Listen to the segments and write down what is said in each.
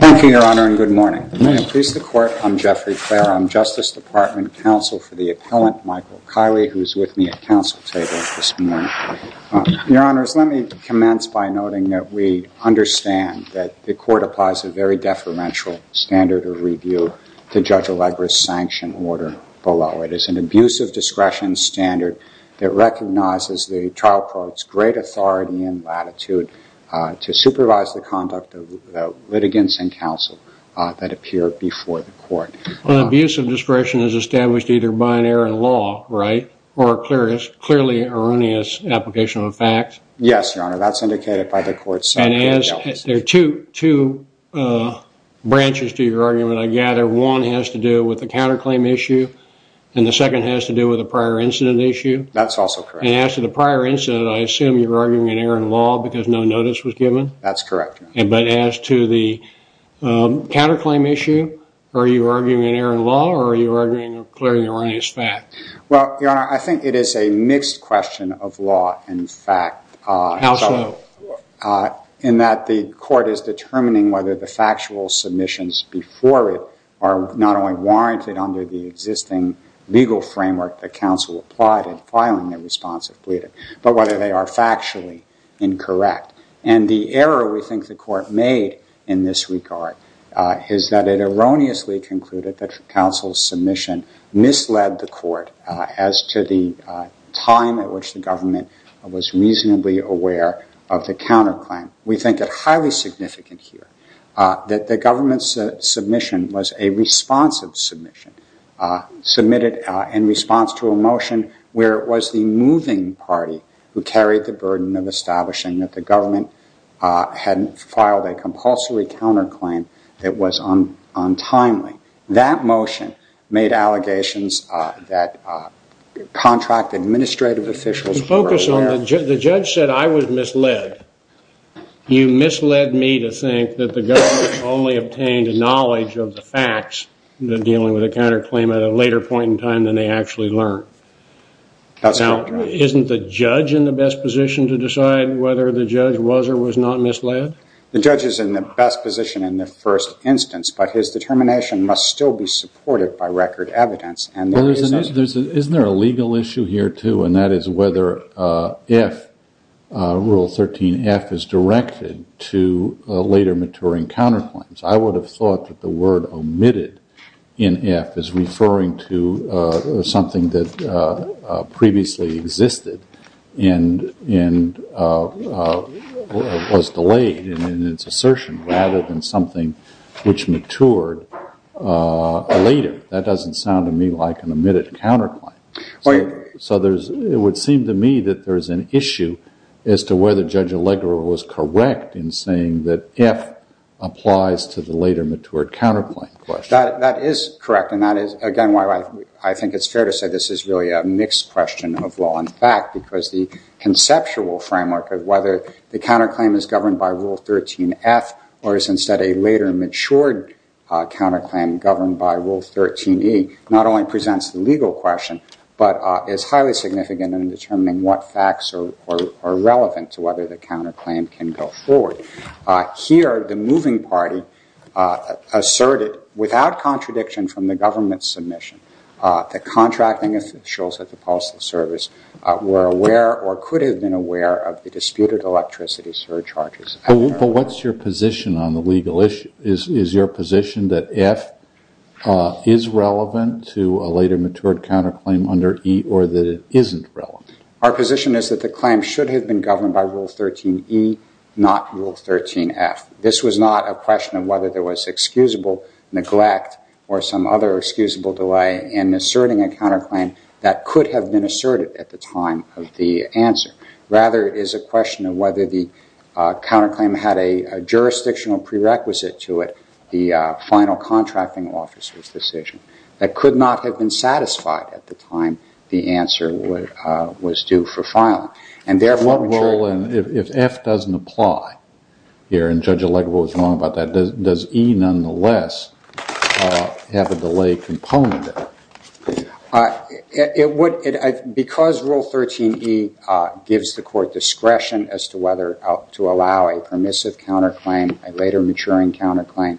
Thank you, Your Honor, and good morning. May it please the Court, I'm Jeffrey Clare. I'm Justice Department Counsel for the Appellant, Michael Kiley, who is with me at counsel table this morning. Your Honors, let me commence by noting that we understand that the Court applies a very clear review to Judge Allegra's sanction order below. It is an abuse of discretion standard that recognizes the trial court's great authority and latitude to supervise the conduct of litigants and counsel that appear before the Court. Well, abuse of discretion is established either by an error in law, right, or a clearly erroneous application of a fact. Yes, Your Honor, that's indicated by the Court's summary. There are two branches to your argument, I gather. One has to do with the counterclaim issue, and the second has to do with the prior incident issue. That's also correct. And as to the prior incident, I assume you're arguing an error in law because no notice was given? That's correct, Your Honor. But as to the counterclaim issue, are you arguing an error in law, or are you arguing a clearly erroneous fact? Well, Your Honor, I think it is a mixed question of law and fact. How so? In that the Court is determining whether the factual submissions before it are not only warranted under the existing legal framework that counsel applied in filing the response of Bleedon, but whether they are factually incorrect. And the error we think the Court made in this regard is that it erroneously concluded that this led the Court, as to the time at which the government was reasonably aware of the counterclaim, we think it highly significant here that the government's submission was a responsive submission, submitted in response to a motion where it was the moving party who carried the burden of establishing that the government had filed a compulsory counterclaim that was untimely. That motion made allegations that contract administrative officials were aware of. Focus on the judge. The judge said I was misled. You misled me to think that the government only obtained knowledge of the facts dealing with a counterclaim at a later point in time than they actually learned. That's not true. Now, isn't the judge in the best position to decide whether the judge was or was not misled? The judge is in the best position in the first instance, but his determination must still be supported by record evidence. Isn't there a legal issue here, too, and that is whether if Rule 13F is directed to later maturing counterclaims. I would have thought that the word omitted in F is referring to something that previously existed and was delayed in its assertion rather than something which matured later. That doesn't sound to me like an omitted counterclaim. So it would seem to me that there is an issue as to whether Judge Allegra was correct in saying that F applies to the later matured counterclaim question. That is correct, and that is, again, why I think it's fair to say this is really a mixed question of law and fact, because the conceptual framework of whether the counterclaim is governed by Rule 13F or is instead a later matured counterclaim governed by Rule 13E not only presents the legal question, but is highly significant in determining what facts are relevant to whether the counterclaim can go forward. Here the moving party asserted, without contradiction from the government's submission, that contracting officials at the Postal Service were aware or could have been aware of the disputed electricity surcharges. But what's your position on the legal issue? Is your position that F is relevant to a later matured counterclaim under E or that it isn't relevant? Our position is that the claim should have been governed by Rule 13E, not Rule 13F. This was not a question of whether there was excusable neglect or some other excusable delay in asserting a counterclaim that could have been asserted at the time of the answer. Rather, it is a question of whether the counterclaim had a jurisdictional prerequisite to it, the final contracting officer's decision, that could not have been satisfied at the time the answer was due for filing. And therefore, if F doesn't apply here, and Judge Allegra was wrong about that, does E nonetheless have a delay component in it? Because Rule 13E gives the court discretion as to whether to allow a permissive counterclaim, a later maturing counterclaim,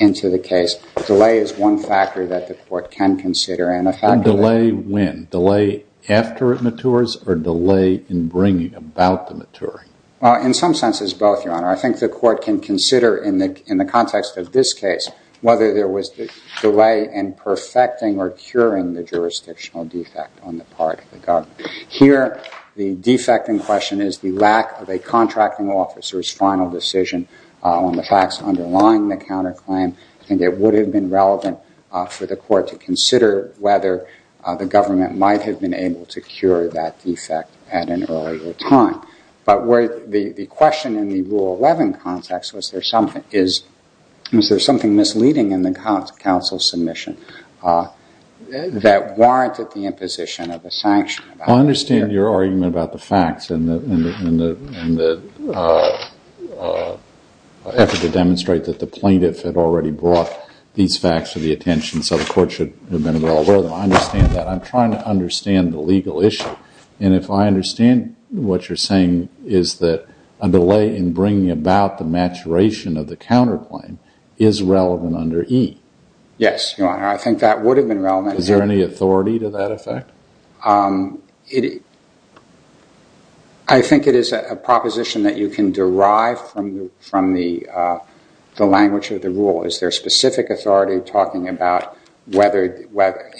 into the case, delay is one factor that the court can consider. And a factor that the court can consider. And delay when? Delay after it matures or delay in bringing about the maturing? In some sense, it's both, Your Honor. I think the court can consider, in the context of this case, whether there was delay in perfecting or curing the jurisdictional defect on the part of the government. Here, the defect in question is the lack of a contracting officer's final decision on the facts underlying the counterclaim. And it would have been relevant for the court to consider whether the government might have been able to cure that defect at an earlier time. But the question in the Rule 11 context, was there something misleading in the counsel's submission that warranted the imposition of a sanction? I understand your argument about the facts and the effort to demonstrate that the plaintiff had already brought these facts to the attention, so the court should have been able to alert them. I understand that. I'm trying to understand the legal issue. And if I understand what you're saying, is that a delay in bringing about the maturation of the counterclaim is relevant under E? Yes, Your Honor. I think that would have been relevant. Is there any authority to that effect? I think it is a proposition that you can derive from the language of the rule. Is there specific authority talking about whether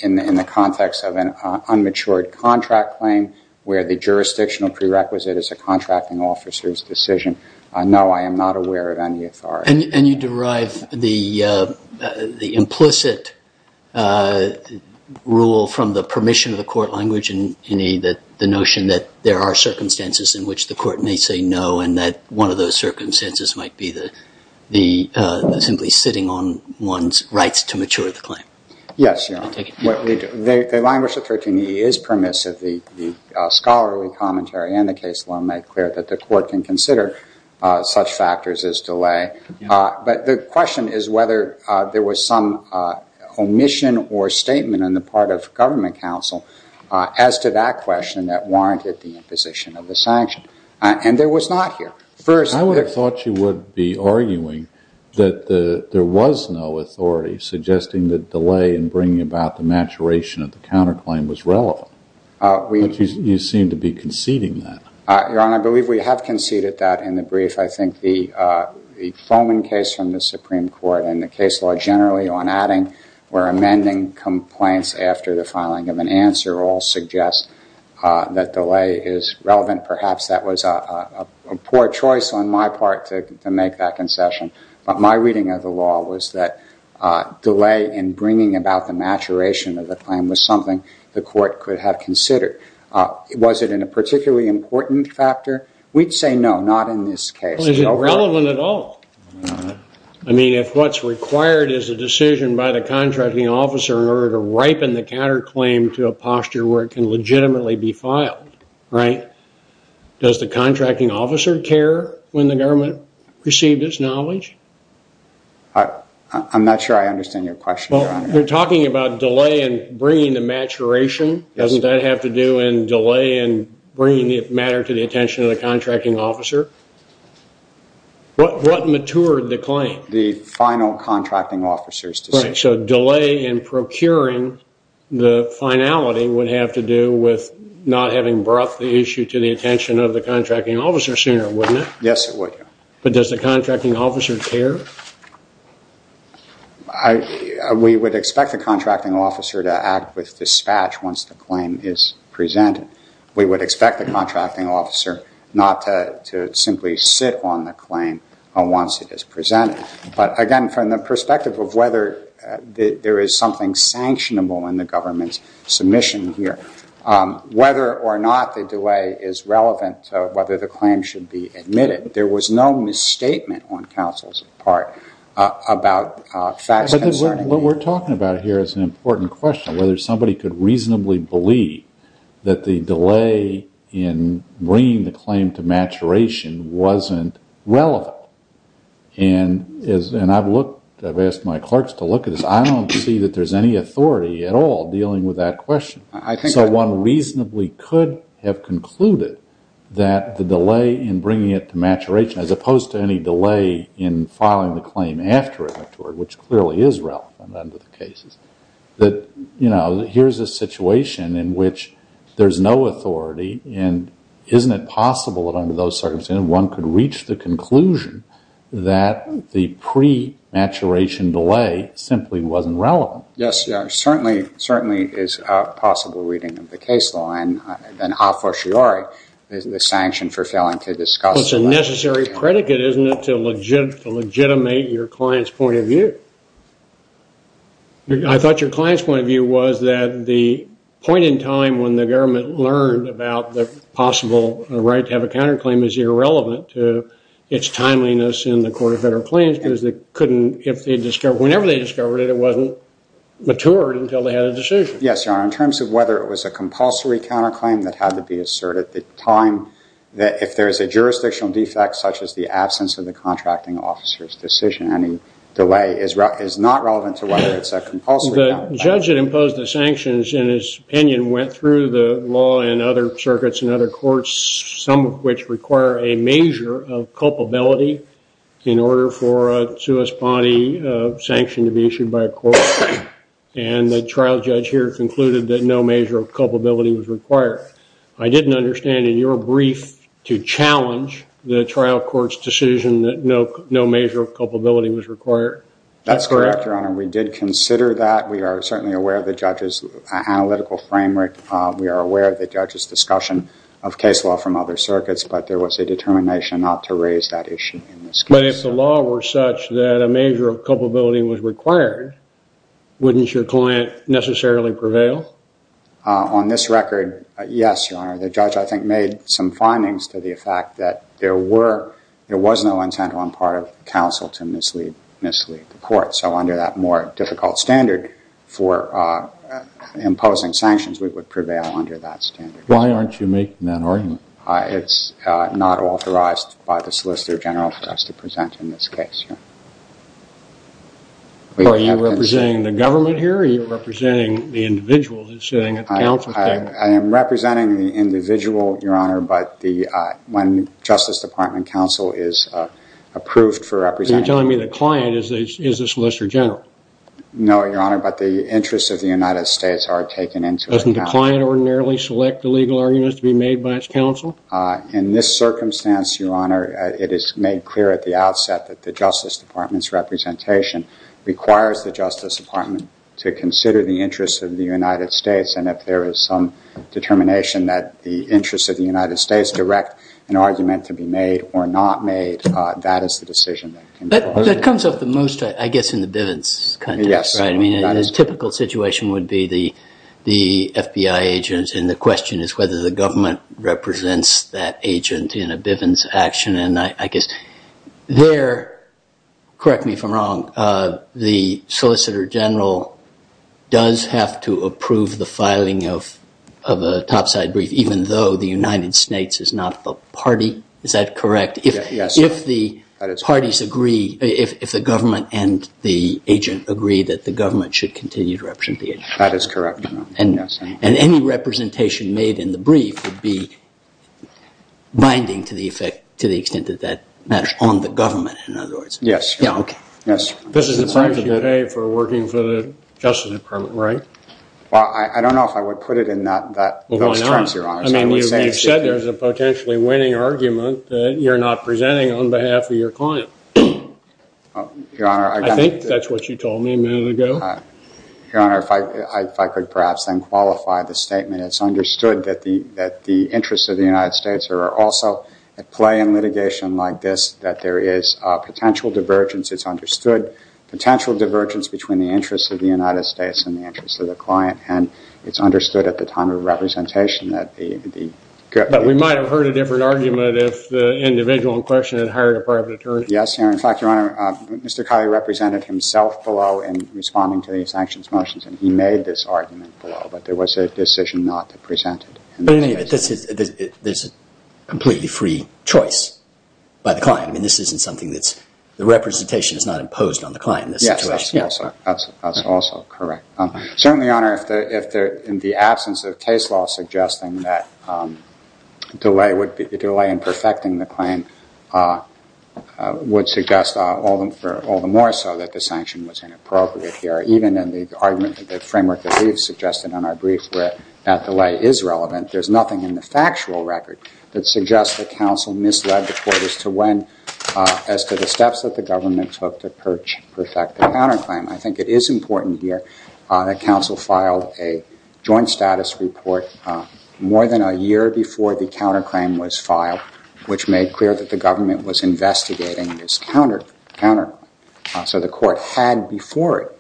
in the context of an unmatured contract claim where the jurisdictional prerequisite is a contracting officer's decision? No, I am not aware of any authority. And you derive the implicit rule from the permission of the court language in E, the notion that there are circumstances in which the court may say no, and that one of those on one's rights to mature the claim. Yes, Your Honor. The language of 13E is permissive. The scholarly commentary and the case law make clear that the court can consider such factors as delay. But the question is whether there was some omission or statement on the part of government counsel as to that question that warranted the imposition of the sanction. And there was not here. First, I would have thought you would be arguing that there was no authority suggesting that delay in bringing about the maturation of the counterclaim was relevant. You seem to be conceding that. Your Honor, I believe we have conceded that in the brief. I think the Foman case from the Supreme Court and the case law generally on adding or amending complaints after the filing of an answer all suggest that delay is relevant. And perhaps that was a poor choice on my part to make that concession. But my reading of the law was that delay in bringing about the maturation of the claim was something the court could have considered. Was it in a particularly important factor? We'd say no, not in this case. Well, is it relevant at all? I mean, if what's required is a decision by the contracting officer in order to ripen the counterclaim to a posture where it can legitimately be filed, right? Does the contracting officer care when the government received its knowledge? I'm not sure I understand your question, Your Honor. Well, we're talking about delay in bringing the maturation. Doesn't that have to do in delay in bringing the matter to the attention of the contracting officer? What matured the claim? The final contracting officer's decision. So delay in procuring the finality would have to do with not having brought the issue to the attention of the contracting officer sooner, wouldn't it? Yes, it would. But does the contracting officer care? We would expect the contracting officer to act with dispatch once the claim is presented. We would expect the contracting officer not to simply sit on the claim once it is presented. But again, from the perspective of whether there is something sanctionable in the government's submission here, whether or not the delay is relevant to whether the claim should be admitted, there was no misstatement on counsel's part about facts concerning it. What we're talking about here is an important question, whether somebody could reasonably believe that the delay in bringing the claim to maturation wasn't relevant. And I've asked my clerks to look at this. I don't see that there's any authority at all dealing with that question. So one reasonably could have concluded that the delay in bringing it to maturation, as opposed to any delay in filing the claim after it matured, which clearly is relevant under the cases, that here's a situation in which there's no authority and isn't it possible that under those circumstances one could reach the conclusion that the pre-maturation delay simply wasn't relevant. Yes, certainly is a possible reading of the case law and a fortiori is the sanction for failing to discuss. Well, it's a necessary predicate, isn't it, to legitimate your client's point of view? I thought your client's point of view was that the point in time when the government learned about the possible right to have a counterclaim is irrelevant to its timeliness in the Court of Federal Claims because whenever they discovered it, it wasn't matured until they had a decision. Yes, Your Honor. In terms of whether it was a compulsory counterclaim that had to be asserted at the time, if there is a jurisdictional defect such as the absence of the contracting officer's decision, any delay is not relevant to whether it's a compulsory counterclaim. The judge that imposed the sanctions, in his opinion, went through the law and other circuits and other courts, some of which require a measure of culpability in order for a suus bondi sanction to be issued by a court, and the trial judge here concluded that no measure of culpability was required. I didn't understand in your brief to challenge the trial court's decision that no measure of culpability was required. That's correct, Your Honor. We did consider that. We are certainly aware of the judge's analytical framework. We are aware of the judge's discussion of case law from other circuits, but there was a determination not to raise that issue in this case. But if the law were such that a measure of culpability was required, wouldn't your client necessarily prevail? On this record, yes, Your Honor. The judge, I think, made some findings to the effect that there was no intent on part of counsel to mislead the court. So under that more difficult standard for imposing sanctions, we would prevail under that standard. Why aren't you making that argument? It's not authorized by the Solicitor General for us to present in this case, Your Honor. Are you representing the government here, or are you representing the individual that's sitting at the counsel table? I am representing the individual, Your Honor, but when Justice Department counsel is approved for representing... You're telling me the client is the Solicitor General. No, Your Honor, but the interests of the United States are taken into account. Doesn't the client ordinarily select the legal arguments to be made by its counsel? In this circumstance, Your Honor, it is made clear at the outset that the Justice Department's representation requires the Justice Department to consider the interests of the United States, and if there is some determination that the interests of the United States direct an argument to be made or not made, that is the decision that can be made. That comes up the most, I guess, in the Bivens context, right? Yes. I mean, the typical situation would be the FBI agents, and the question is whether the government represents that agent in a Bivens action. And I guess there, correct me if I'm wrong, the Solicitor General does have to approve the filing of a topside brief, even though the United States is not a party. Is that correct? Yes. If the parties agree, if the government and the agent agree that the government should continue to represent the agent. That is correct, Your Honor. And any representation made in the brief would be binding to the extent that that matters on the government, in other words. Yes. Okay. Yes. This is the price you pay for working for the Justice Department, right? Well, I don't know if I would put it in those terms, Your Honor. Well, why not? I mean, you said there's a potentially winning argument that you're not presenting on behalf of your client. Your Honor, I think that's what you told me a minute ago. Your Honor, if I could perhaps then qualify the statement, it's understood that the interests of the United States are also at play in litigation like this, that there is a potential divergence. It's understood potential divergence between the interests of the United States and the interests of the client. And it's understood at the time of representation that the... But we might have heard a different argument if the individual in question had hired a private attorney. Yes, Your Honor. In fact, Your Honor, Mr. Kiley represented himself below in responding to the sanctions motions, and he made this argument below, but there was a decision not to present it. But anyway, there's a completely free choice by the client. I mean, this isn't something that's... The representation is not imposed on the client in this situation. Yes, that's also correct. Certainly, Your Honor, if in the absence of case law suggesting that delay in perfecting the claim would suggest all the more so that the sanction was inappropriate here, even in the argument, the framework that we've suggested on our brief where that delay is relevant, there's nothing in the factual record that suggests that counsel misled the court as to the steps that the government took to perfect the counterclaim. I think it is important here that counsel filed a joint status report more than a year before the counterclaim was filed, which made clear that the government was investigating this counterclaim. So the court had before it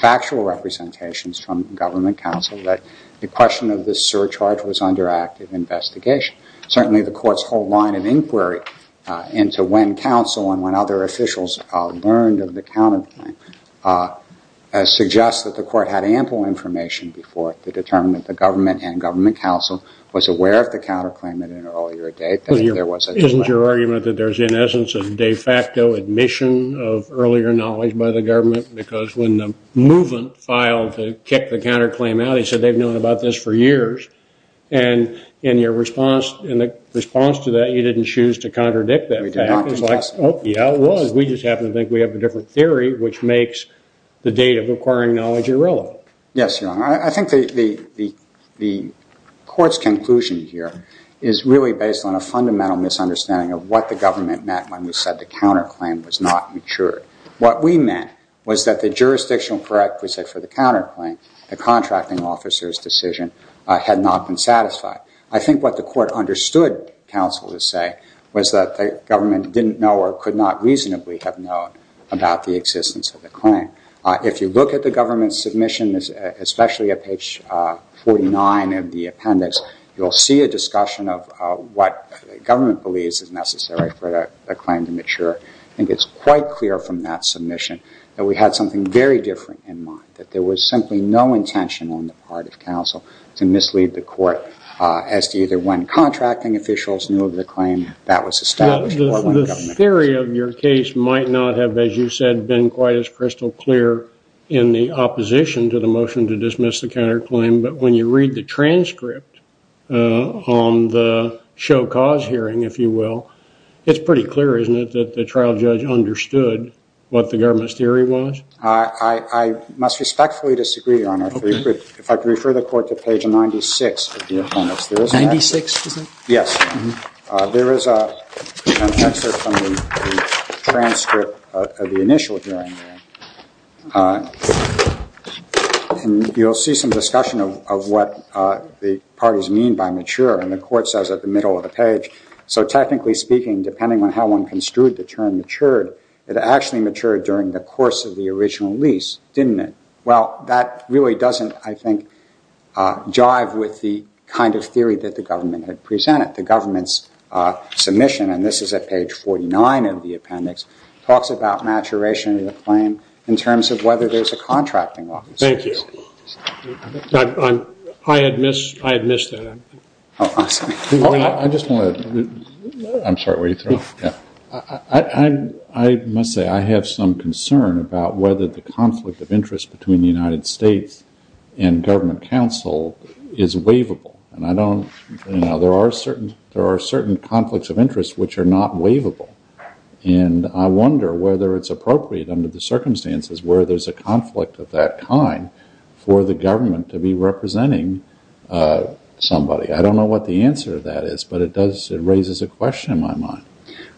factual representations from government counsel that the question of this surcharge was under active investigation. Certainly, the court's whole line of inquiry into when counsel and when other officials learned of the counterclaim suggests that the court had ample information before it to determine that the government and government counsel was aware of the counterclaim at an earlier date. Isn't your argument that there's, in essence, a de facto admission of earlier knowledge by the government? Because when the movement filed to kick the counterclaim out, they said they've known about this for years. And in your response to that, you didn't choose to contradict that. We did not discuss it. Oh, yeah, it was. We just happen to think we have a different theory, which makes the date of acquiring knowledge irrelevant. Yes, Your Honor. I think the court's conclusion here is really based on a fundamental misunderstanding of what the government meant when we said the counterclaim was not mature. What we meant was that the jurisdictional prerequisite for the counterclaim, the contracting officer's decision, had not been satisfied. I think what the court understood counsel to say was that the government didn't know or could not reasonably have known about the existence of the claim. If you look at the government's submission, especially at page 49 of the appendix, you'll see a discussion of what government believes is necessary for a claim to mature. I think it's quite clear from that submission that we had something very different in mind, that there was simply no intention on the part of counsel to mislead the court as to either when contracting officials knew of the claim, that was established, or when government didn't. The theory of your case might not have, as you said, been quite as crystal clear in the opposition to the motion to dismiss the counterclaim, but when you read the transcript on the show cause hearing, if you will, it's pretty clear, isn't it, that the trial judge understood what the government's theory was? I must respectfully disagree, Your Honor, if I could refer the court to page 96 of the appendix. 96, is it? Yes. There is an excerpt from the transcript of the initial hearing. You'll see some discussion of what the parties mean by mature, and the court says at the middle of the page. So technically speaking, depending on how one construed the term matured, it actually matured during the course of the original lease, didn't it? Well, that really doesn't, I think, jive with the kind of theory that the government had presented. The government's submission, and this is at page 49 of the appendix, talks about maturation of the claim in terms of whether there's a contracting officer. Thank you. I had missed that. Oh, I'm sorry. I just want to... I'm sorry, what are you throwing? I must say, I have some concern about whether the conflict of interest between the United States and government counsel is waivable, and I don't, you know, there are certain conflicts of interest which are not waivable, and I wonder whether it's appropriate under the circumstances where there's a conflict of that kind for the government to be representing somebody. I don't know what the answer to that is, but it does, it raises a question in my mind.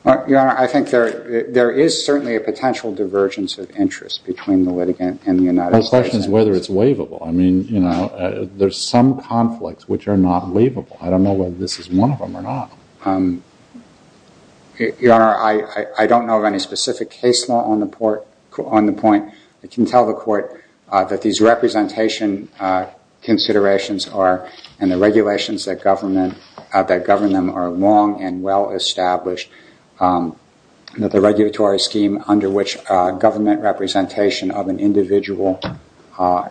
Your Honor, I think there is certainly a potential divergence of interest between the litigant and the United States. The question is whether it's waivable. I mean, you know, there's some conflicts which are not waivable. I don't know whether this is one of them or not. Your Honor, I don't know of any specific case law on the point. I can tell the Court that these representation considerations are, and the regulations that govern them are long and well-established, that the regulatory scheme under which government representation of an individual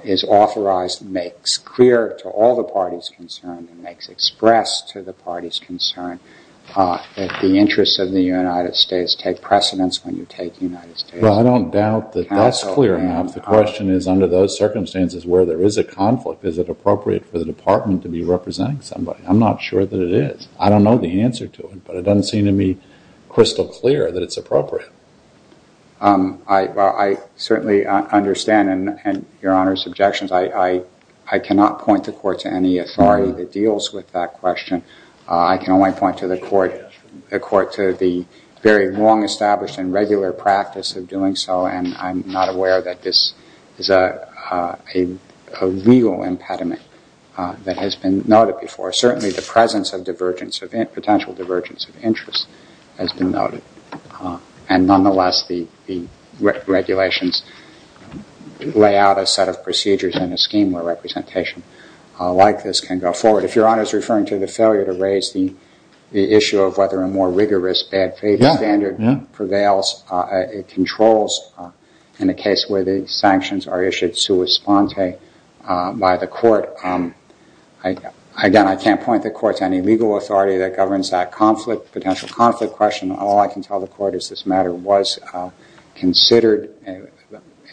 is authorized makes clear to all the parties concerned and makes express to the parties concerned that the interests of the United States take precedence when you take the United States counsel. But I don't doubt that that's clear enough. The question is, under those circumstances where there is a conflict, is it appropriate for the Department to be representing somebody? I'm not sure that it is. I don't know the answer to it, but it doesn't seem to me crystal clear that it's appropriate. I certainly understand, and Your Honor's objections, I cannot point the Court to any authority that deals with that question. I can only point the Court to the very long-established and regular practice of doing so, and I'm not aware that this is a legal impediment that has been noted before. Certainly the presence of potential divergence of interest has been noted. And nonetheless, the regulations lay out a set of procedures and a scheme where representation like this can go forward. If Your Honor is referring to the failure to raise the issue of whether a more rigorous bad faith standard prevails, it controls, in a case where the sanctions are issued sua sponte by the Court, again, I can't point the Court to any legal authority that governs that conflict, potential conflict question. All I can tell the Court is this matter was considered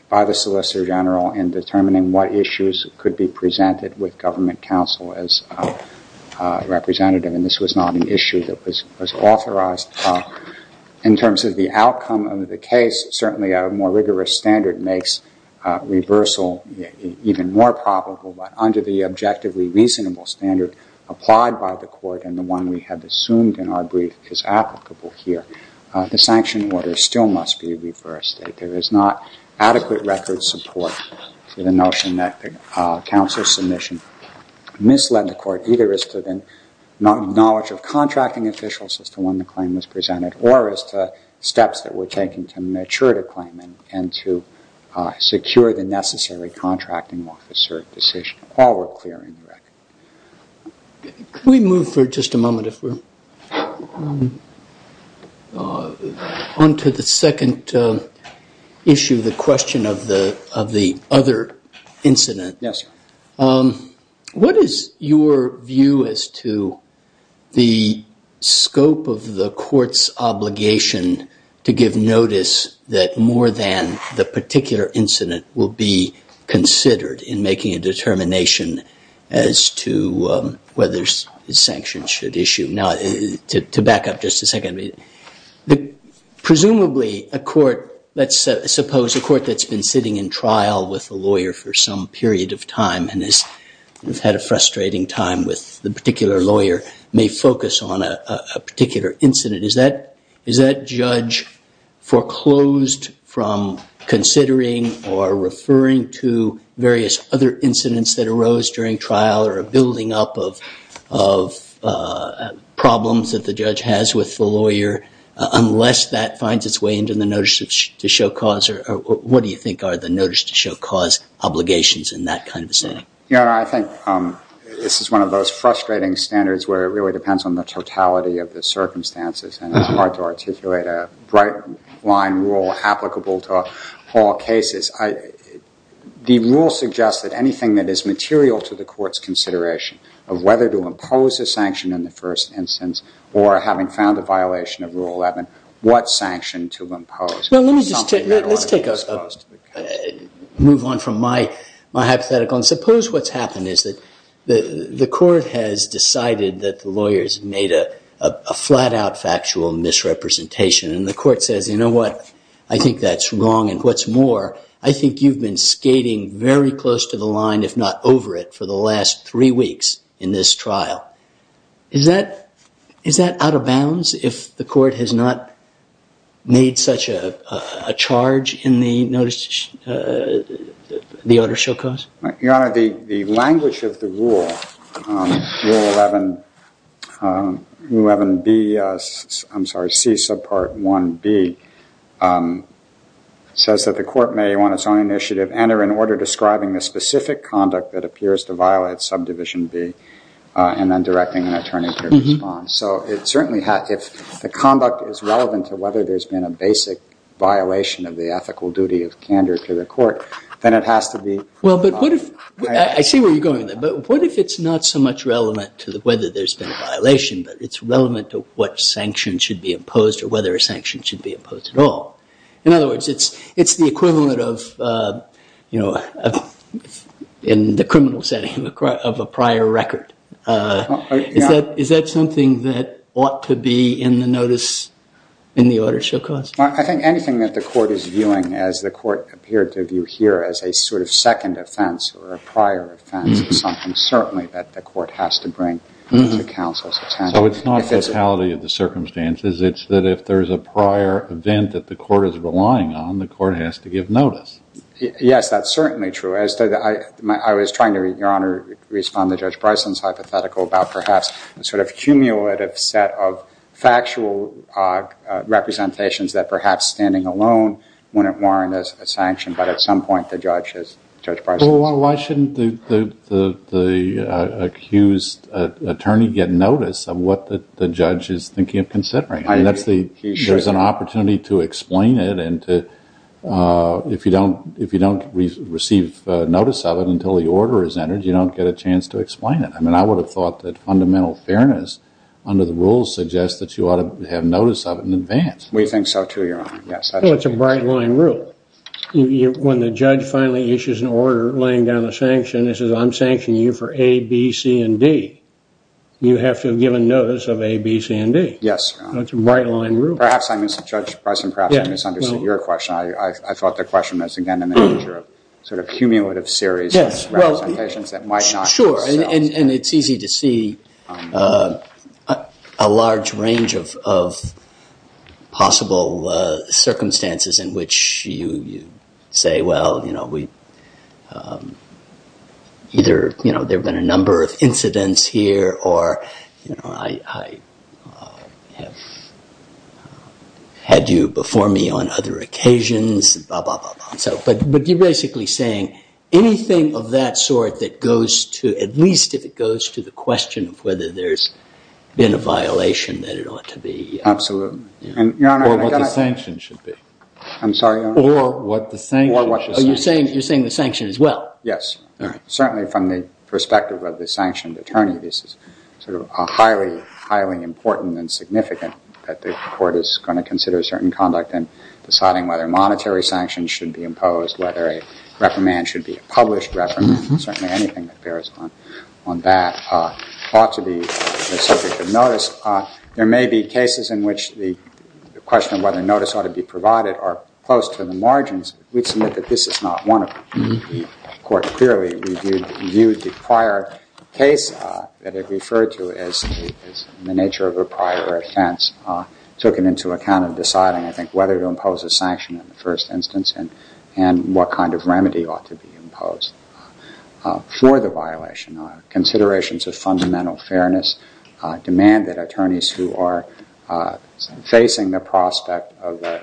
by the Solicitor General in determining what issues could be presented with government counsel as representative, and this was not an issue that was authorized. In terms of the outcome of the case, certainly a more rigorous standard makes reversal even more probable, but under the objectively reasonable standard applied by the Court and the one we have assumed in our brief is applicable here, the sanction order still must be reversed. There is not adequate record support for the notion that the counsel's submission misled the Court either as to the knowledge of contracting officials as to when the claim was presented or as to steps that were taken to mature the claim and to secure the necessary contracting officer decision while we're clearing the record. Can we move for just a moment if we're on to the second issue, the question of the other incident? Yes. What is your view as to the scope of the Court's obligation to give notice that more than the to whether sanctions should issue? Now, to back up just a second, presumably a court, let's suppose a court that's been sitting in trial with a lawyer for some period of time and has had a frustrating time with the particular lawyer may focus on a particular incident. Is that judge foreclosed from considering or referring to various other incidents that building up of problems that the judge has with the lawyer unless that finds its way into the notice to show cause or what do you think are the notice to show cause obligations in that kind of setting? Your Honor, I think this is one of those frustrating standards where it really depends on the totality of the circumstances and it's hard to articulate a bright line rule applicable to all cases. The rule suggests that anything that is material to the Court's consideration of whether to impose a sanction in the first instance or having found a violation of Rule 11, what sanction to impose? Let's take a move on from my hypothetical and suppose what's happened is that the Court has decided that the lawyers made a flat-out factual misrepresentation and the Court says, you know what? I think that's wrong and what's more, I think you've been skating very close to the line if not over it for the last three weeks in this trial. Is that out of bounds if the Court has not made such a charge in the notice to the order show cause? Your Honor, the language of the rule, Rule 11B, I'm sorry, C subpart 1B, says that the Court may on its own initiative enter an order describing the specific conduct that appears to violate subdivision B and then directing an attorney to respond. So it certainly has, if the conduct is relevant to whether there's been a basic violation of the ethical duty of candor to the Court, then it has to be. Well, but what if, I see where you're going with that, but what if it's not so much relevant to whether there's been a violation but it's relevant to what sanction should be imposed or whether a sanction should be imposed at all? In other words, it's the equivalent of, you know, in the criminal setting of a prior record. Is that something that ought to be in the notice in the order show cause? Well, I think anything that the Court is viewing, as the Court appeared to view here, as a sort of second offense or a prior offense is something certainly that the Court has to bring to counsel's attention. So it's not the totality of the circumstances. It's that if there's a prior event that the Court is relying on, the Court has to give notice. Yes, that's certainly true. I was trying to, Your Honor, respond to Judge Bryson's hypothetical about perhaps a sort of cumulative set of factual representations that perhaps standing alone wouldn't warrant a sanction. But at some point, the judge has, Judge Bryson has. Well, why shouldn't the accused attorney get notice of what the judge is thinking of considering? I agree. He should. There's an opportunity to explain it and to, if you don't receive notice of it until the order is entered, you don't get a chance to explain it. I mean, I would have thought that fundamental fairness under the rules suggests that you ought to have notice of it in advance. We think so, too, Your Honor. Yes. Well, it's a bright-line rule. When the judge finally issues an order laying down the sanction, it says, I'm sanctioning you for A, B, C, and D. You have to have given notice of A, B, C, and D. Yes, Your Honor. It's a bright-line rule. Perhaps, Judge Bryson, perhaps I misunderstood your question. I thought the question was, again, in the nature of sort of cumulative series of representations that might not. Sure. And it's easy to see a large range of possible circumstances in which you say, well, either there have been a number of incidents here or I have had you before me on other occasions, and blah, blah, blah, blah. But you're basically saying, anything of that sort that goes to, at least if it goes to the question of whether there's been a violation, that it ought to be. Absolutely. And Your Honor, I got to- Or what the sanction should be. I'm sorry, Your Honor? Or what the sanction- Or what the sanction should be. Oh, you're saying the sanction, as well? Yes. All right. Certainly, from the perspective of the sanctioned attorney, this is sort of a highly, highly important and significant that the court is going to consider certain conduct in deciding whether monetary sanctions should be imposed, whether a reprimand should be a published reprimand. Certainly, anything that bears on that ought to be the subject of notice. There may be cases in which the question of whether notice ought to be provided are close to the margins. We'd submit that this is not one of them. The court clearly reviewed the prior case that it referred to as the nature of a prior offense, took it into account in deciding, I think, whether to impose a sanction in the first instance and what kind of remedy ought to be imposed for the violation. Considerations of fundamental fairness demand that attorneys who are facing the prospect of a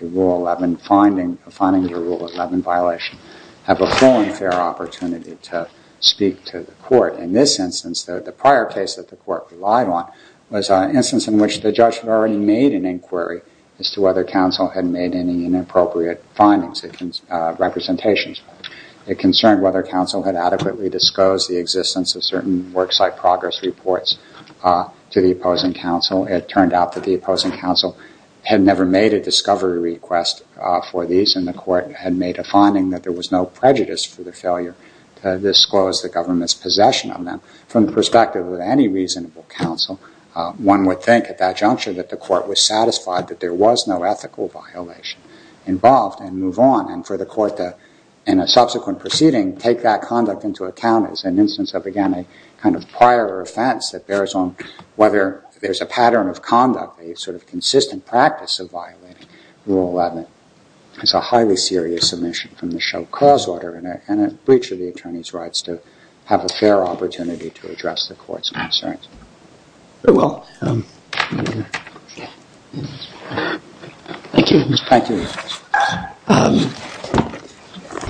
Rule 11 finding, a finding of a Rule 11 violation, have a full and fair opportunity to speak to the court. In this instance, the prior case that the court relied on was an instance in which the judge had already made an inquiry as to whether counsel had made any inappropriate findings, representations. It concerned whether counsel had adequately disclosed the existence of certain worksite progress reports to the opposing counsel. It turned out that the opposing counsel had never made a discovery request for these, and the court had made a finding that there was no prejudice for the failure to disclose the government's possession of them from the perspective of any reasonable counsel. One would think at that juncture that the court was satisfied that there was no ethical violation involved and move on, and for the court to, in a subsequent proceeding, take that conduct into account as an instance of, again, a kind of prior offense that bears on whether there's a pattern of conduct, a sort of consistent practice of violating Rule 11. It's a highly serious omission from the show cause order and a breach of the attorney's ability to have a fair opportunity to address the court's concerns. Very well. Thank you. Thank you. Thank you.